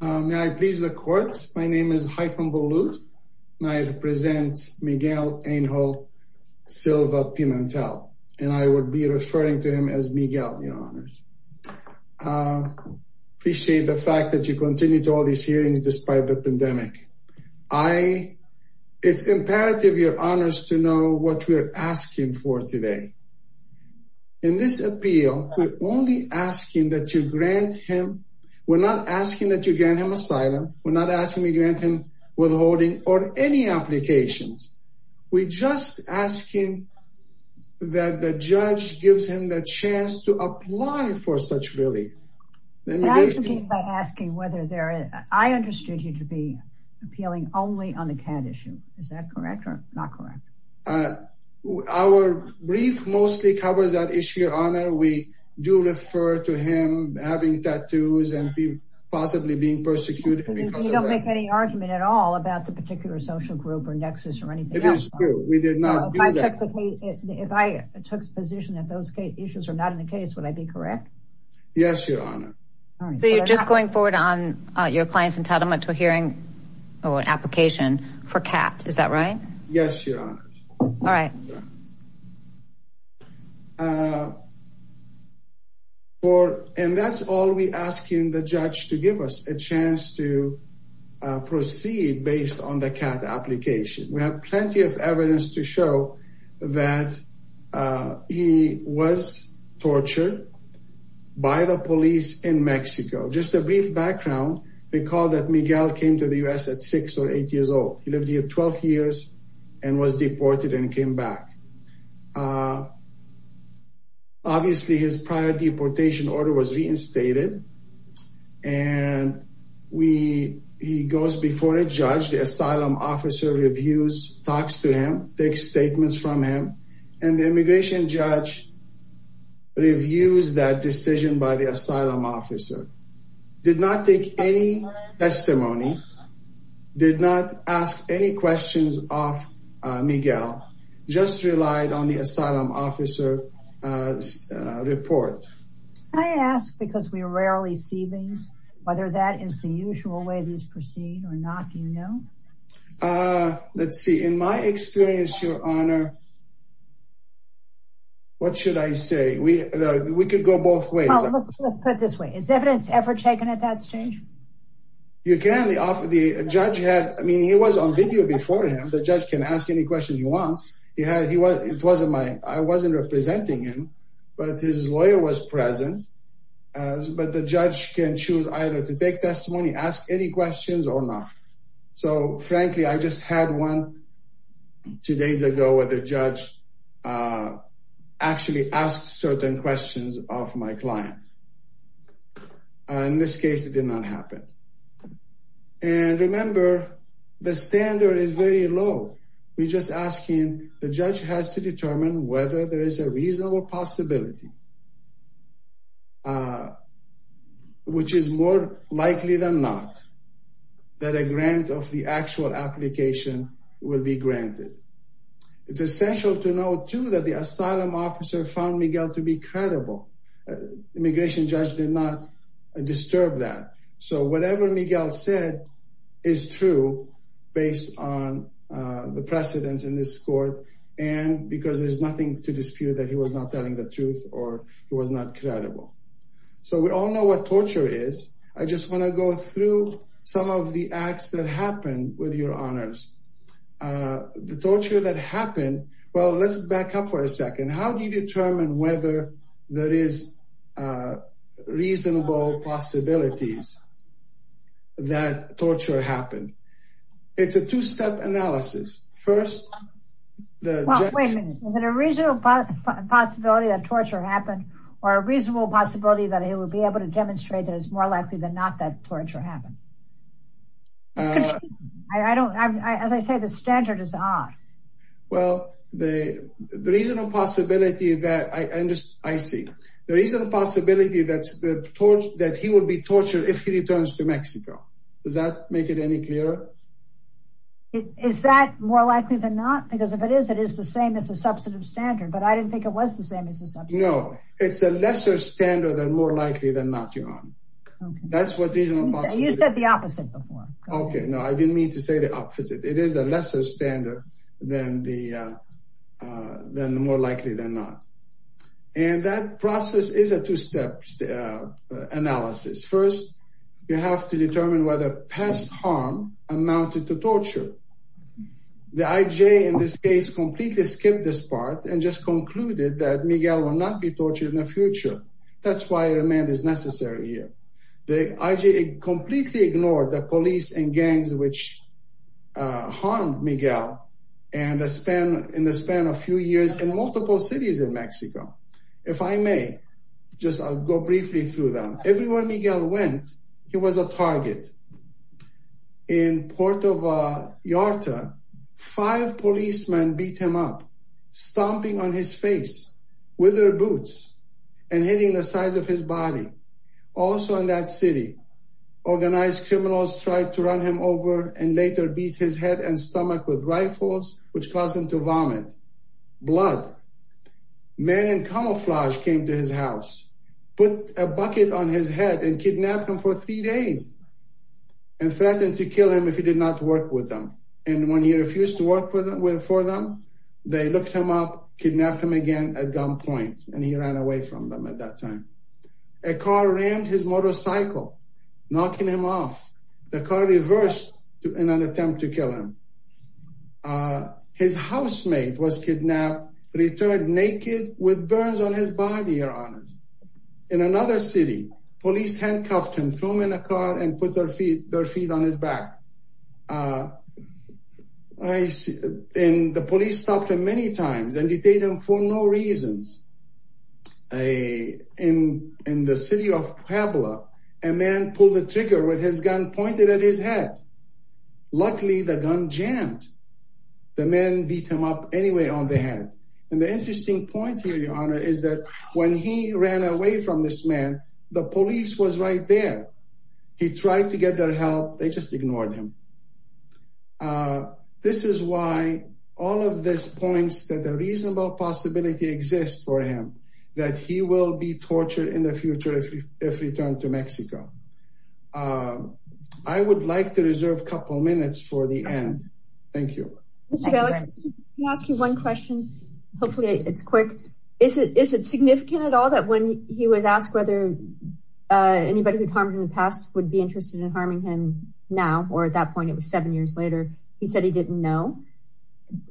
May I please the court? My name is Haifam Bouloud and I represent Miguel Angel Silva-Pimentel and I would be referring to him as Miguel, your honors. Appreciate the fact that you continue to all these hearings despite the pandemic. It's imperative, your honors, to know what we're asking for today. In this appeal we're only asking that you grant him, we're not asking that you grant him asylum, we're not asking we grant him withholding or any applications. We're just asking that the judge gives him the chance to apply for such relief. May I begin by asking whether there, I understood you to be appealing only on the CAD issue, is that correct or not correct? Our brief mostly covers that issue, we do refer to him having tattoos and possibly being persecuted because of that. You don't make any argument at all about the particular social group or nexus or anything. It is true, we did not do that. If I took the position that those issues are not in the case, would I be correct? Yes, your honor. So you're just going forward on your client's entitlement to a hearing or an application for CAD, is that right? Yes, your honors. All right. And that's all we're asking the judge to give us, a chance to proceed based on the CAD application. We have plenty of evidence to show that he was tortured by the police in Mexico. Just a brief background, recall that Miguel came to the U.S. at six or eight years old. He lived here 12 years and was deported and came back. Obviously his prior deportation order was reinstated and he goes before a judge, the asylum officer reviews, talks to him, takes statements from him and the immigration judge reviews that decision by the asylum officer. Did not take any testimony, did not ask any questions of Miguel, just relied on the asylum officer's report. Can I ask, because we rarely see these, whether that is the usual way these proceed or not, do you know? Let's see, in my experience, your honor, what should I say? We could go both ways. You can, the judge had, I mean he was on video before him, the judge can ask any questions he wants. He had, he was, it wasn't my, I wasn't representing him, but his lawyer was present, but the judge can choose either to take testimony, ask any questions or not. So frankly, I just had one two days ago where the judge actually asked certain questions of my client. In this case, it did not happen. And remember, the standard is very low. We're just asking, the judge has to determine whether there is a reasonable possibility, which is more likely than not, that a grant of the actual application will be granted. It's essential to know too that the asylum officer found Miguel to be credible. Immigration judge did not disturb that. So whatever Miguel said is true based on the precedents in this court and because there's nothing to dispute that he was not telling the truth or he was not credible. So we all know what torture is. I just want to go through some of the acts that happened with your honors. The torture that happened, well, let's back up for a second. How do you determine whether there is a reasonable possibility that torture happened? It's a two-step analysis. First, the- Well, wait a minute. Is it a reasonable possibility that torture happened or a reasonable possibility that he would be able to demonstrate that it's more likely than not that torture happened? I don't, as I say, the standard is odd. Well, the reasonable possibility that, I see. The reasonable possibility that he will be tortured if he returns to Mexico. Does that make it any clearer? Is that more likely than not? Because if it is, it is the same as a substantive standard, but I didn't think it was the same as a substantive standard. No, it's a lesser standard and more likely than not, your honor. That's what reasonable possibility- You said the opposite before. Okay. No, I didn't mean to say the opposite. It is a lesser standard than the more likely than not. And that process is a two-step analysis. First, you have to determine whether past harm amounted to torture. The IJ, in this case, completely skipped this part and just concluded that Miguel will not be tortured in the future. That's why remand is necessary here. The IJ completely ignored the police and gangs which harmed Miguel in the span of a few years in multiple cities in Mexico. If I may, just I'll go briefly through them. Everywhere Miguel went, he was a target. In Puerto Vallarta, five policemen beat him up, stomping on his face with their boots and hitting the sides of his body. Also in that city, organized criminals tried to run him over and later beat his head and stomach with rifles, which caused him to vomit. Blood. Men in camouflage came to his house, put a bucket on his head and kidnapped him for three days and threatened to kill him if he did not work with them. And when he refused to work for them, they looked him up, kidnapped him again at gunpoint, and he ran away from them at that time. A car rammed his motorcycle, knocking him off. The car reversed in an attempt to kill him. His housemate was kidnapped, returned naked with burns on his body, Your Honors. In another city, police handcuffed him, threw him in a car and put their feet on his back. And the police stopped him many times and detained him for no reasons. In the city of Puebla, a man pulled the trigger with his gun pointed at his head. Luckily, the gun jammed. The man beat him up anyway on the head. And the interesting point here, Your Honor, is that when he ran away from this man, the police was right there. He tried to get their help. They just ignored him. This is why all of this points that a reasonable possibility exists for him, that he will be tortured in the future if returned to Mexico. I would like to reserve a couple of minutes for the end. Thank you. Mr. Bialik, can I ask you one question? Hopefully it's quick. Is it significant at all that when he was asked whether anybody who's harmed in the past would be interested in harming him now, or at that point it was seven years later, he said he didn't know?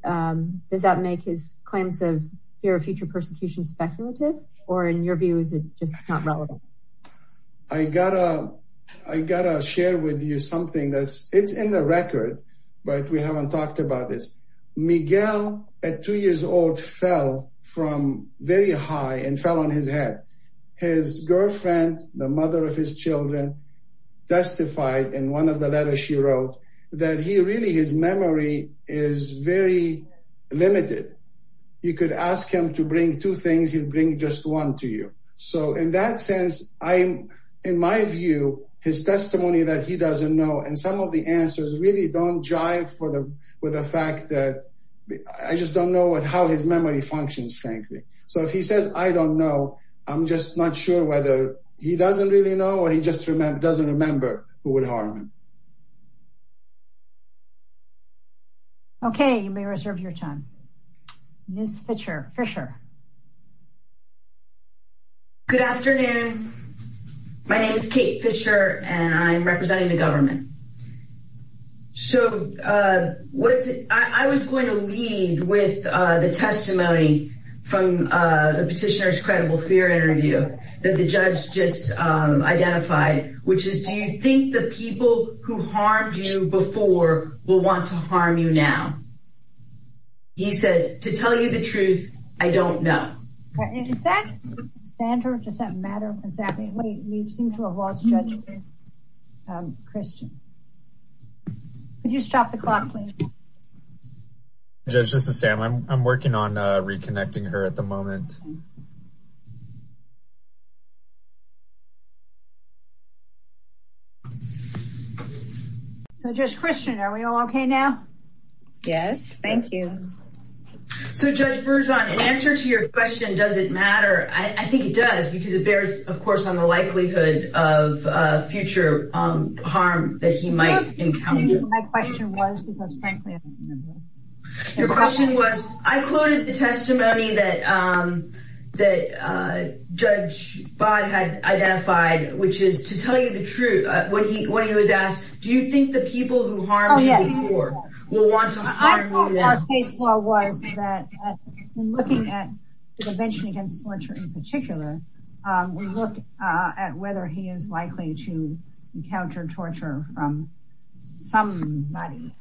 Does that make his claims of fear of future persecution speculative? Or in your view, is it just not relevant? I gotta share with you something that's in the record, but we haven't talked about this. Miguel, at two years old, fell from very high and fell on his head. His girlfriend, the mother of his children, testified in one of the letters she wrote that really his memory is very limited. You could ask him to bring two things, he'd bring just one to you. So in that sense, in my view, his testimony that he doesn't know and some of the answers really don't jive with the fact that I just don't know how his memory functions, frankly. So if he says, I don't know, I'm just not sure whether he doesn't really know or he just doesn't remember who would harm him. Okay, you may reserve your time. Ms. Fischer. Good afternoon. My name is Kate Fischer and I'm representing the government. So I was going to lead with the testimony from the petitioner's credible fear interview that the judge just identified, which is, do you think the people who harmed you before will want to harm you now? He says, to tell you the truth, I don't know. Is that standard? Does that matter? We seem to have lost judgment. Um, Christian, could you stop the clock, please? Judge, this is Sam. I'm working on reconnecting her at the moment. So Judge Christian, are we all okay now? Yes, thank you. So Judge Berzon, an answer to your question, does it matter? I think it does because it bears, of course, on the likelihood of future harm that he might encounter. My question was, because frankly, I don't remember. Your question was, I quoted the testimony that Judge Fodd had identified, which is, to tell you the truth, when he was asked, do you think the people who harmed you before will want to harm you now? I thought what I saw was that in looking at prevention against torture in particular, we look at whether he is likely to encounter torture from somebody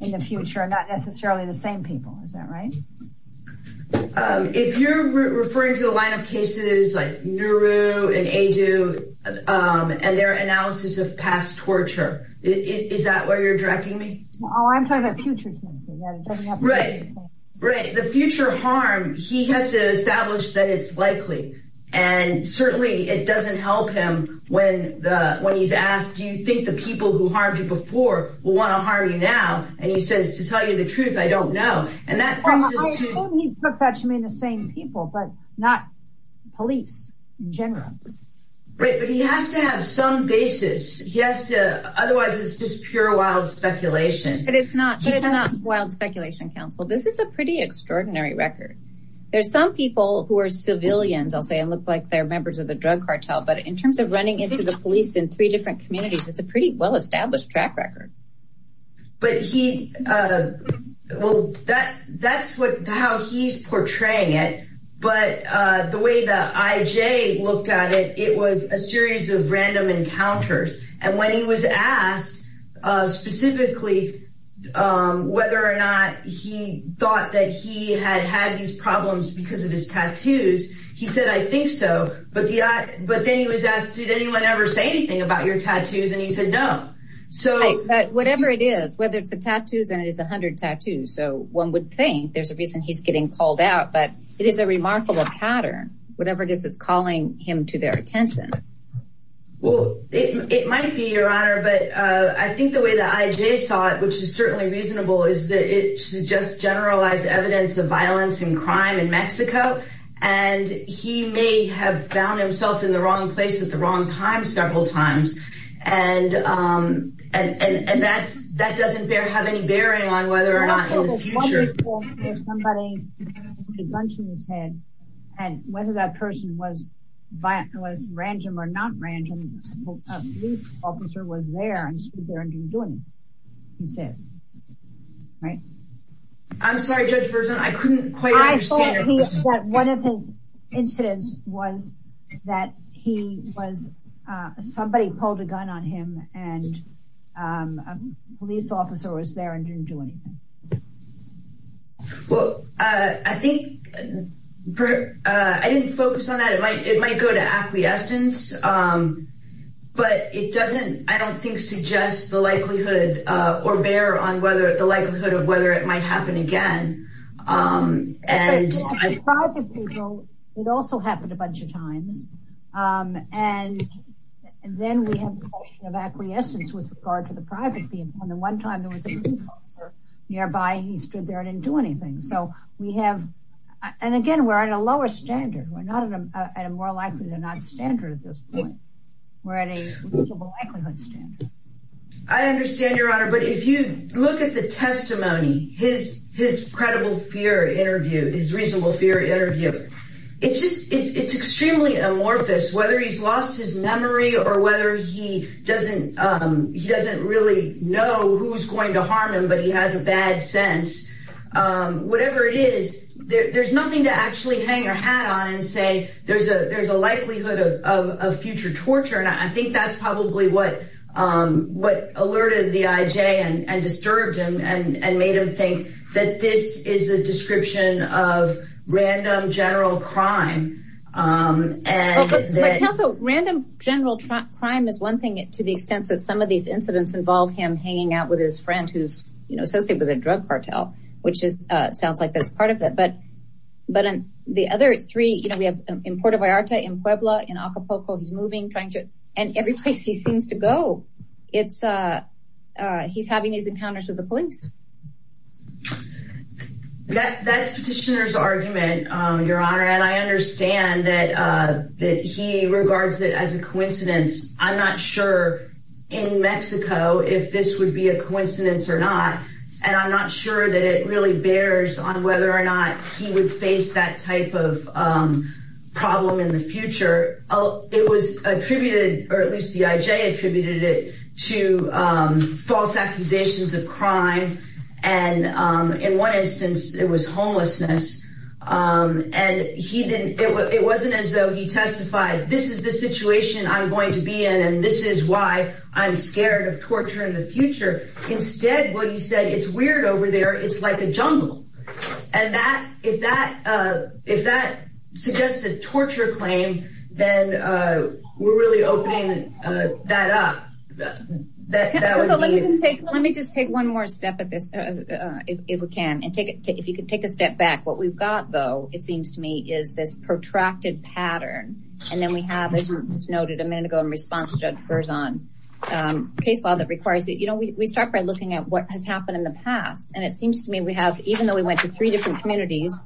in the future, not necessarily the same people. Is that right? If you're referring to the line of cases like Nauru and Aidu, and their analysis of past torture, is that where you're directing me? Oh, I'm talking about future. Right, right. The future harm, he has to establish that it's likely. And certainly, it doesn't help him when he's asked, do you think the people who harmed you before will want to harm you now? And he says, to tell you the truth, I don't know. And that brings us to- I hope he took that to mean the same people, but not police in general. Right, but he has to have some basis. Otherwise, it's just pure wild speculation. But it's not wild speculation, counsel. This is a pretty extraordinary record. There's some people who are civilians, I'll say, and look like they're members of the drug cartel. But in terms of running into the police in three different communities, it's a pretty well-established track record. But he- well, that's how he's portraying it. But the way the IJ looked at it, it was a series of random encounters. And when he was asked specifically whether or not he thought that he had had these problems because of his tattoos, he said, I think so. But then he was asked, did anyone ever say anything about your tattoos? And he said, no. Right, but whatever it is, whether it's the tattoos, and it is 100 tattoos, so one would think there's a reason he's getting called out. But it is a remarkable pattern, whatever it is that's calling him to their attention. Well, it might be, Your Honor. But I think the way the IJ saw it, which is certainly reasonable, is that it suggests generalized evidence of violence and crime in Mexico. And he may have found himself in the wrong place at the wrong time several times. And that doesn't have any bearing on whether or not in the future- I'm sorry, Judge Berzon, I couldn't quite understand- I thought that one of his incidents was that he was, somebody pulled a gun on him, and a police officer was there and didn't do anything. Well, I think, I didn't focus on that. It might go to acquiescence. But it doesn't, I don't think, suggest the likelihood, or bear on whether the likelihood of whether it might happen again. And- For private people, it also happened a bunch of times. And then we have a question of acquiescence with regard to the private people. And the one time there was a police officer nearby, he stood there and didn't do anything. So we have, and again, we're at a lower standard. We're not at a more likely than not standard at this point. We're at a reasonable likelihood standard. I understand, Your Honor. But if you look at the testimony, his credible fear interview, his reasonable fear interview, it's just, it's extremely amorphous, whether he's lost his memory or whether he doesn't really know who's going to harm him, but he has a bad sense. Whatever it is, there's nothing to actually hang your hat on and say, there's a likelihood of future torture. And I think that's probably what alerted the IJ and disturbed him and made him think that this is a description of random general crime. And also random general crime is one thing to the extent that some of these incidents involve him hanging out with his friend who's associated with a drug cartel, which sounds like that's part of it. But on the other three, we have in Puerto Vallarta, in Puebla, in Acapulco, he's moving, trying to, and every place he seems to go, he's having these encounters with the police. That's petitioner's argument, Your Honor. And I understand that he regards it as a coincidence. I'm not sure in Mexico if this would be a coincidence or not. And I'm not sure that it really bears on whether or not he would face that type of problem in the future. It was attributed, or at least the IJ attributed it to false accusations of crime. And in one instance, it was homelessness. And he didn't, it wasn't as though he testified, this is the situation I'm going to be in. And this is why I'm scared of torture in the future. Instead, what he said, it's weird over there. It's like a jungle. And that, if that, if that suggests a torture claim, then we're really opening that up. Let me just take one more step at this, if we can. And if you could take a step back, what we've got, though, it seems to me, is this protracted pattern. And then we have, as was noted a minute ago in response to Judge Berzon, a case law that requires, you know, we start by looking at what has happened in the past. And it seems to me we have, even though we went to three different communities,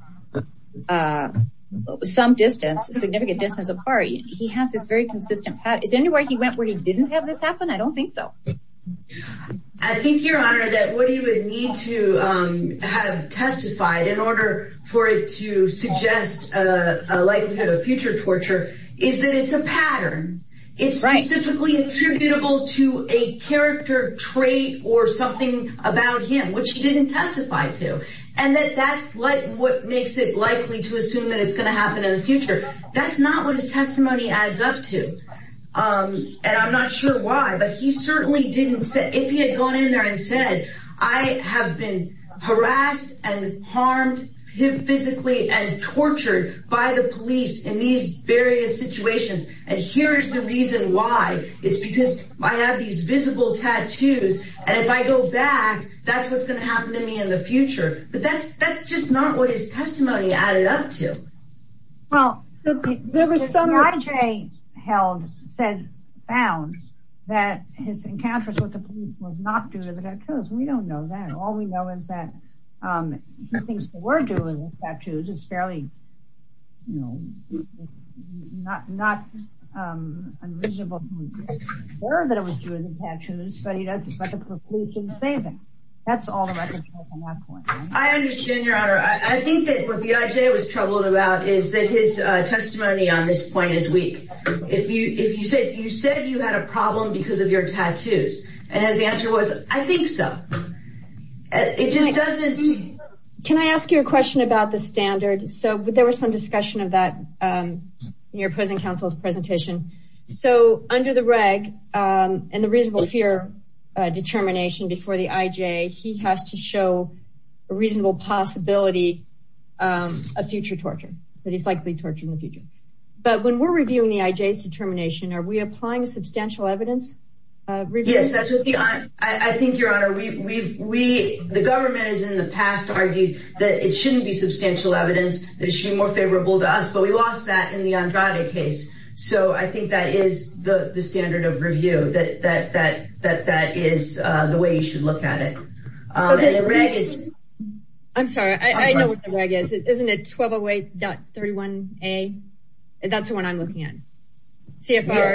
some distance, a significant distance apart, he has this very consistent pattern. Is there anywhere he went where he didn't have this happen? I don't think so. I think, Your Honor, that what he would need to have testified in order for it to suggest a likelihood of future torture is that it's a pattern. It's specifically attributable to a character trait or something about him, which he didn't testify to. And that that's like what makes it likely to assume that it's going to happen in the future. That's not what his testimony adds up to. And I'm not sure why, but he certainly didn't say, if he had gone in there and said, I have been harassed and harmed physically and tortured by the police in these various situations. And here's the reason why. It's because I have these visible tattoos. And if I go back, that's what's going to happen to me in the future. But that's just not what his testimony added up to. Well, there was some... The NYJ found that his encounters with the police was not due to the tattoos. We don't know that. All we know is that he thinks they were due to his tattoos. It's fairly, you know, not unreasonable to be aware that it was due to the tattoos, but the police didn't say anything. That's all I can say from that point on. I understand, Your Honor. I think that what the NYJ was troubled about is that his testimony on this point is weak. If you said you had a problem because of your tattoos, and his answer was, I think so. It just doesn't... Can I ask you a question about the standard? So there was some discussion of that in your opposing counsel's presentation. So under the reg and the reasonable fear determination before the IJ, he has to show a reasonable possibility of future torture, but he's likely tortured in the future. But when we're reviewing the IJ's determination, are we applying substantial evidence? Yes, that's what the... I think, Your Honor, we... the government has in the past argued that it shouldn't be substantial evidence, that it should be more favorable to us, but we lost that in the Andrade case. So I think that is the standard of review, that is the way you should look at it. I'm sorry, I know what the reg is. Isn't it 1208.31a? That's the one I'm looking at. CFR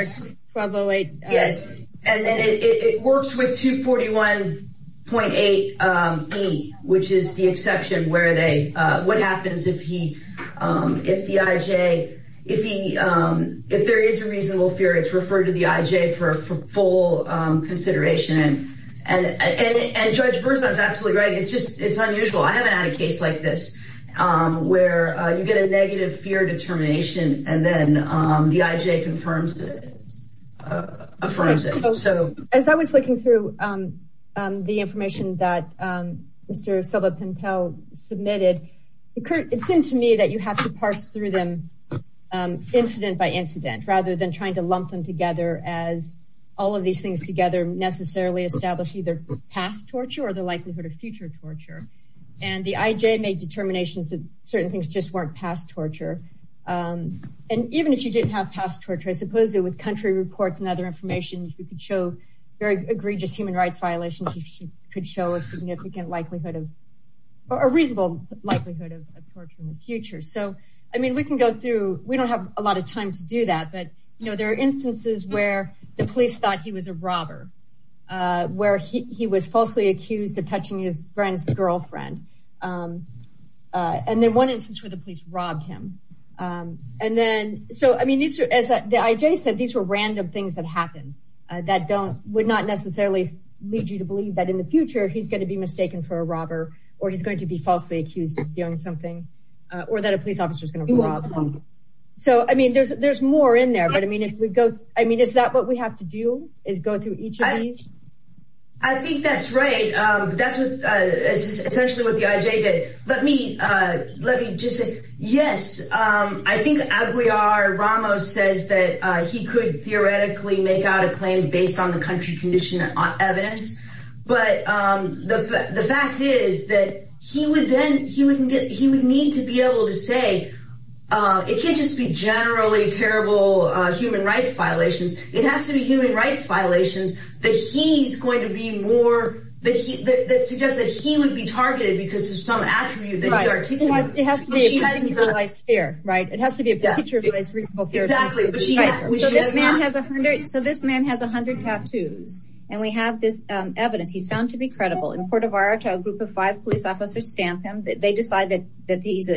1208. Yes, and then it works with 241.8b, which is the exception where they... what happens if he... if the IJ... if he... if there is a reasonable fear, it's referred to the IJ for full consideration. And Judge Berzon's absolutely right. It's just... it's unusual. I haven't had a case like this, where you get a negative fear determination and then the IJ confirms it... affirms it. So as I was looking through the information that Mr. Silva-Pintel submitted, it occurred... it seemed to me that you have to parse through them incident by incident, rather than trying to lump them together as all of these things together necessarily establish either past torture or the likelihood of future torture. And the IJ made determinations that certain things just weren't past torture. And even if you didn't have past torture, I suppose with country reports and other information, you could show very egregious human rights violations, you could show a significant likelihood of... a reasonable likelihood of torture in the future. So, I mean, we can go through... we don't have a lot of time to do that, but, you know, there are instances where the police thought he was a robber, where he was falsely accused of touching his friend's girlfriend. And then one instance where the police robbed him. And then... so, I mean, these are... as the IJ said, these were random things that happened that don't... would not necessarily lead you to believe that in the future he's going to be mistaken for a robber, or he's going to be falsely accused of doing something, or that a police officer is going to rob him. So, I mean, there's more in there, but, I mean, if we go... I mean, is that what we have to do, is go through each of these? I think that's right. That's essentially what the IJ did. Let me just say, yes, I think Aguiar Ramos says that he could theoretically make out a claim based on the country condition evidence, but the fact is that he would then... he would need to be able to say, it can't just be generally terrible human rights violations, it has to be human rights violations that he's going to be more... that suggests that he would be targeted because of some attribute that he articulated. It has to be a picture of what is reasonable fear. Exactly. So, this man has 100 tattoos, and we have this evidence he's found to be credible. In Puerto Vallarta, a group of five police officers stamp him. They decide that he's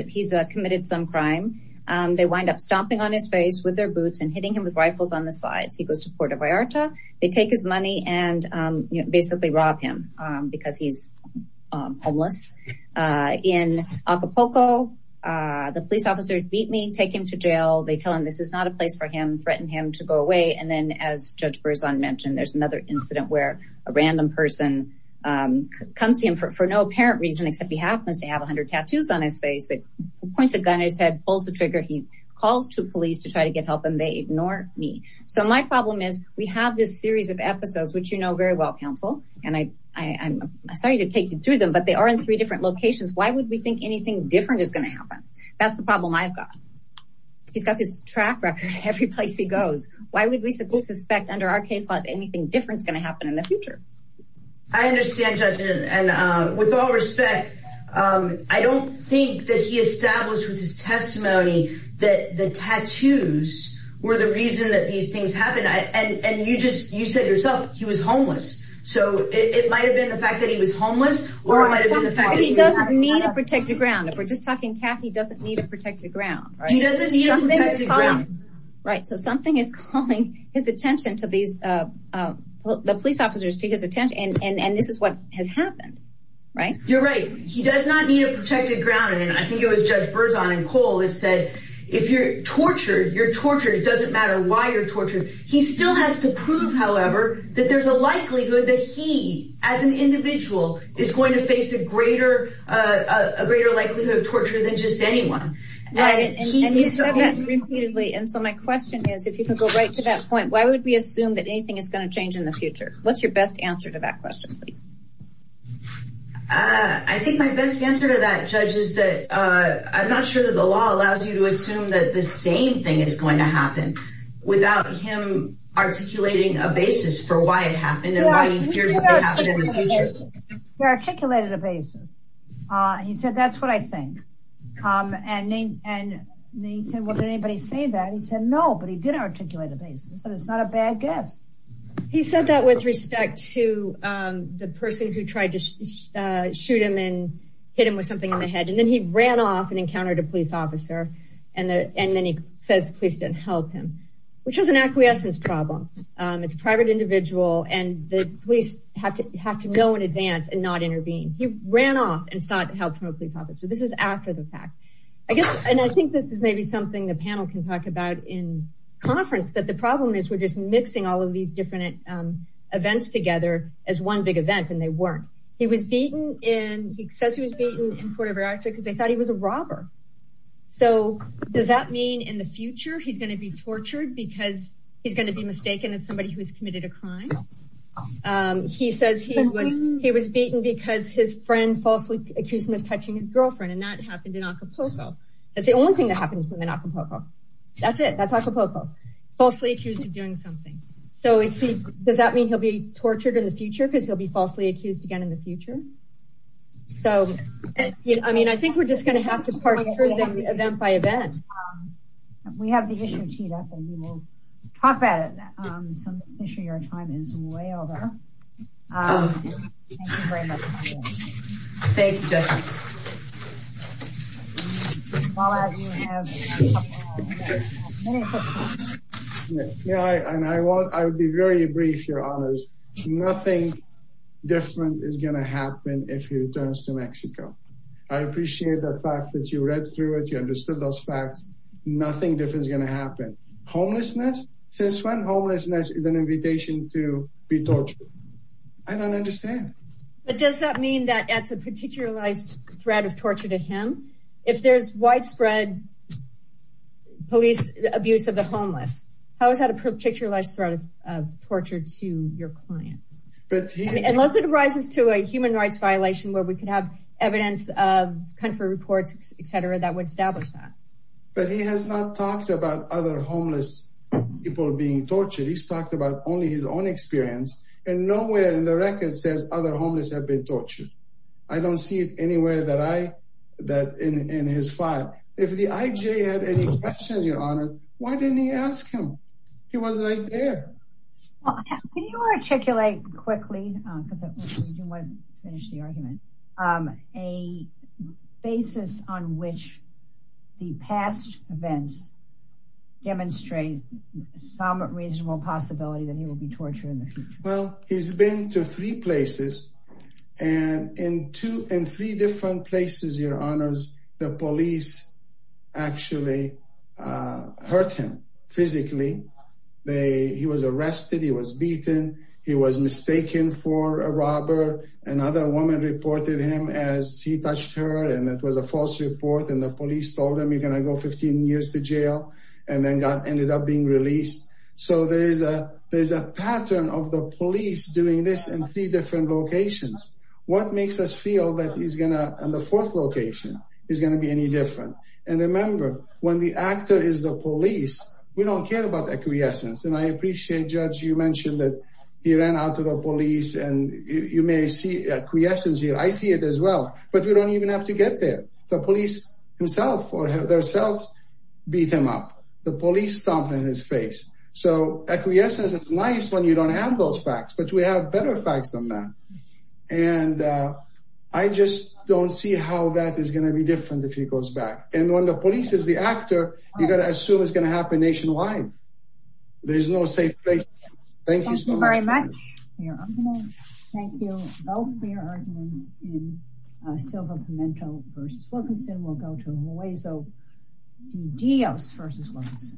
committed some crime. They wind up stomping on his face with their boots and hitting him with rifles on the sides. He goes to Puerto Vallarta. They take his money and basically rob him because he's homeless. In Acapulco, the police officer beat me, take him to jail. They tell him this is not a place for him, threaten him to go away. And then as Judge Berzon mentioned, there's another incident where a random person comes to him for no apparent reason, except he happens to have 100 tattoos on his face. They point a gun at his head, pulls the trigger. He calls to police to try to get help, and they ignore me. So, my problem is we have this series of episodes, which you know very well, counsel, and I'm sorry to take you through them, but they are in three different locations. Why would we think anything different is going to happen? That's the problem I've got. He's got this track record every place he goes. Why would we suspect under our case law that anything different is going to happen in the future? I understand, Judge, and with all respect, I don't think that he established with his testimony that the tattoos were the reason that these things happened. And you just, you said yourself, he was homeless. So, it might have been the fact that he was homeless, or it might have been the fact that he had a tattoo. He doesn't need a protected ground. If we're just talking, Kathy doesn't need a protected ground. He doesn't need a protected ground. Right. So, something is calling his attention to these, the police take his attention, and this is what has happened, right? You're right. He does not need a protected ground. And I think it was Judge Berzon and Cole that said, if you're tortured, you're tortured. It doesn't matter why you're tortured. He still has to prove, however, that there's a likelihood that he, as an individual, is going to face a greater likelihood of torture than just anyone. And so, my question is, if you can go right to that point, why would we assume that anything is going to change in the future? What's your best answer to that question, please? I think my best answer to that, Judge, is that I'm not sure that the law allows you to assume that the same thing is going to happen without him articulating a basis for why it happened, and why he fears what may happen in the future. He articulated a basis. He said, that's what I think. And then he said, well, did anybody say that? He said, no, but he did articulate a basis, and it's not a bad guess. He said that with respect to the person who tried to shoot him and hit him with something in the head. And then he ran off and encountered a police officer, and then he says the police didn't help him, which was an acquiescence problem. It's a private individual, and the police have to know in advance and not intervene. He ran off and sought help from a police officer. This is after the fact. I guess, and I think this is maybe something the panel can talk about in conference, that the problem is we're just mixing all of these different events together as one big event, and they weren't. He was beaten in, he says he was beaten in Puerto Vallarta because they thought he was a robber. So does that mean in the future he's going to be tortured because he's going to be mistaken as somebody who has committed a crime? He says he was beaten because his friend falsely accused him of touching his girlfriend, and that happened in Acapulco. That's the only thing that happened to him in Acapulco. That's it. That's Acapulco. Falsely accused of doing something. So does that mean he'll be tortured in the future because he'll be falsely accused again in the future? So I mean, I think we're just going to have to parse through them event by event. We have the issue teed up, and we will talk about it. So Ms. Fisher, your time is way over. Thank you very much. Thank you, Judge. Yeah, and I will be very brief, Your Honors. Nothing different is going to happen if he returns to Mexico. I appreciate the fact that you read through it, you understood those facts. Nothing different is going to happen. Homelessness, since when homelessness is an invitation to be tortured? I don't understand. But does that mean that adds a particularized threat of torture to him? If there's widespread police abuse of the homeless, how is that a particularized threat of torture to your client? Unless it arises to a human rights violation where we could have evidence of country reports, et cetera, that would establish that. But he has not talked about other homeless people being tortured. He's talked about only his experience, and nowhere in the record says other homeless have been tortured. I don't see it anywhere in his file. If the IJ had any questions, Your Honor, why didn't he ask him? He was right there. Can you articulate quickly, because I do want to finish the argument, a basis on which the past events demonstrate some reasonable possibility that he will be tortured in the future? Well, he's been to three places, and in three different places, Your Honors, the police actually hurt him physically. He was arrested, he was beaten, he was mistaken for a police, told him, you're going to go 15 years to jail, and then ended up being released. So there is a pattern of the police doing this in three different locations. What makes us feel that he's going to, in the fourth location, is going to be any different? And remember, when the actor is the police, we don't care about acquiescence. And I appreciate, Judge, you mentioned that he ran out to the police, and you may see acquiescence here. I see it as well. But we don't even have to get there. The police himself or themselves beat him up. The police stomped on his face. So acquiescence is nice when you don't have those facts, but we have better facts than that. And I just don't see how that is going to be different if he goes back. And when the police is the actor, you got to assume it's going to happen nationwide. There's no safe place. Thank you so much. Thank you very much. In Silver Pimento v. Wilkinson, we'll go to Hueso C. Diaz v. Wilkinson.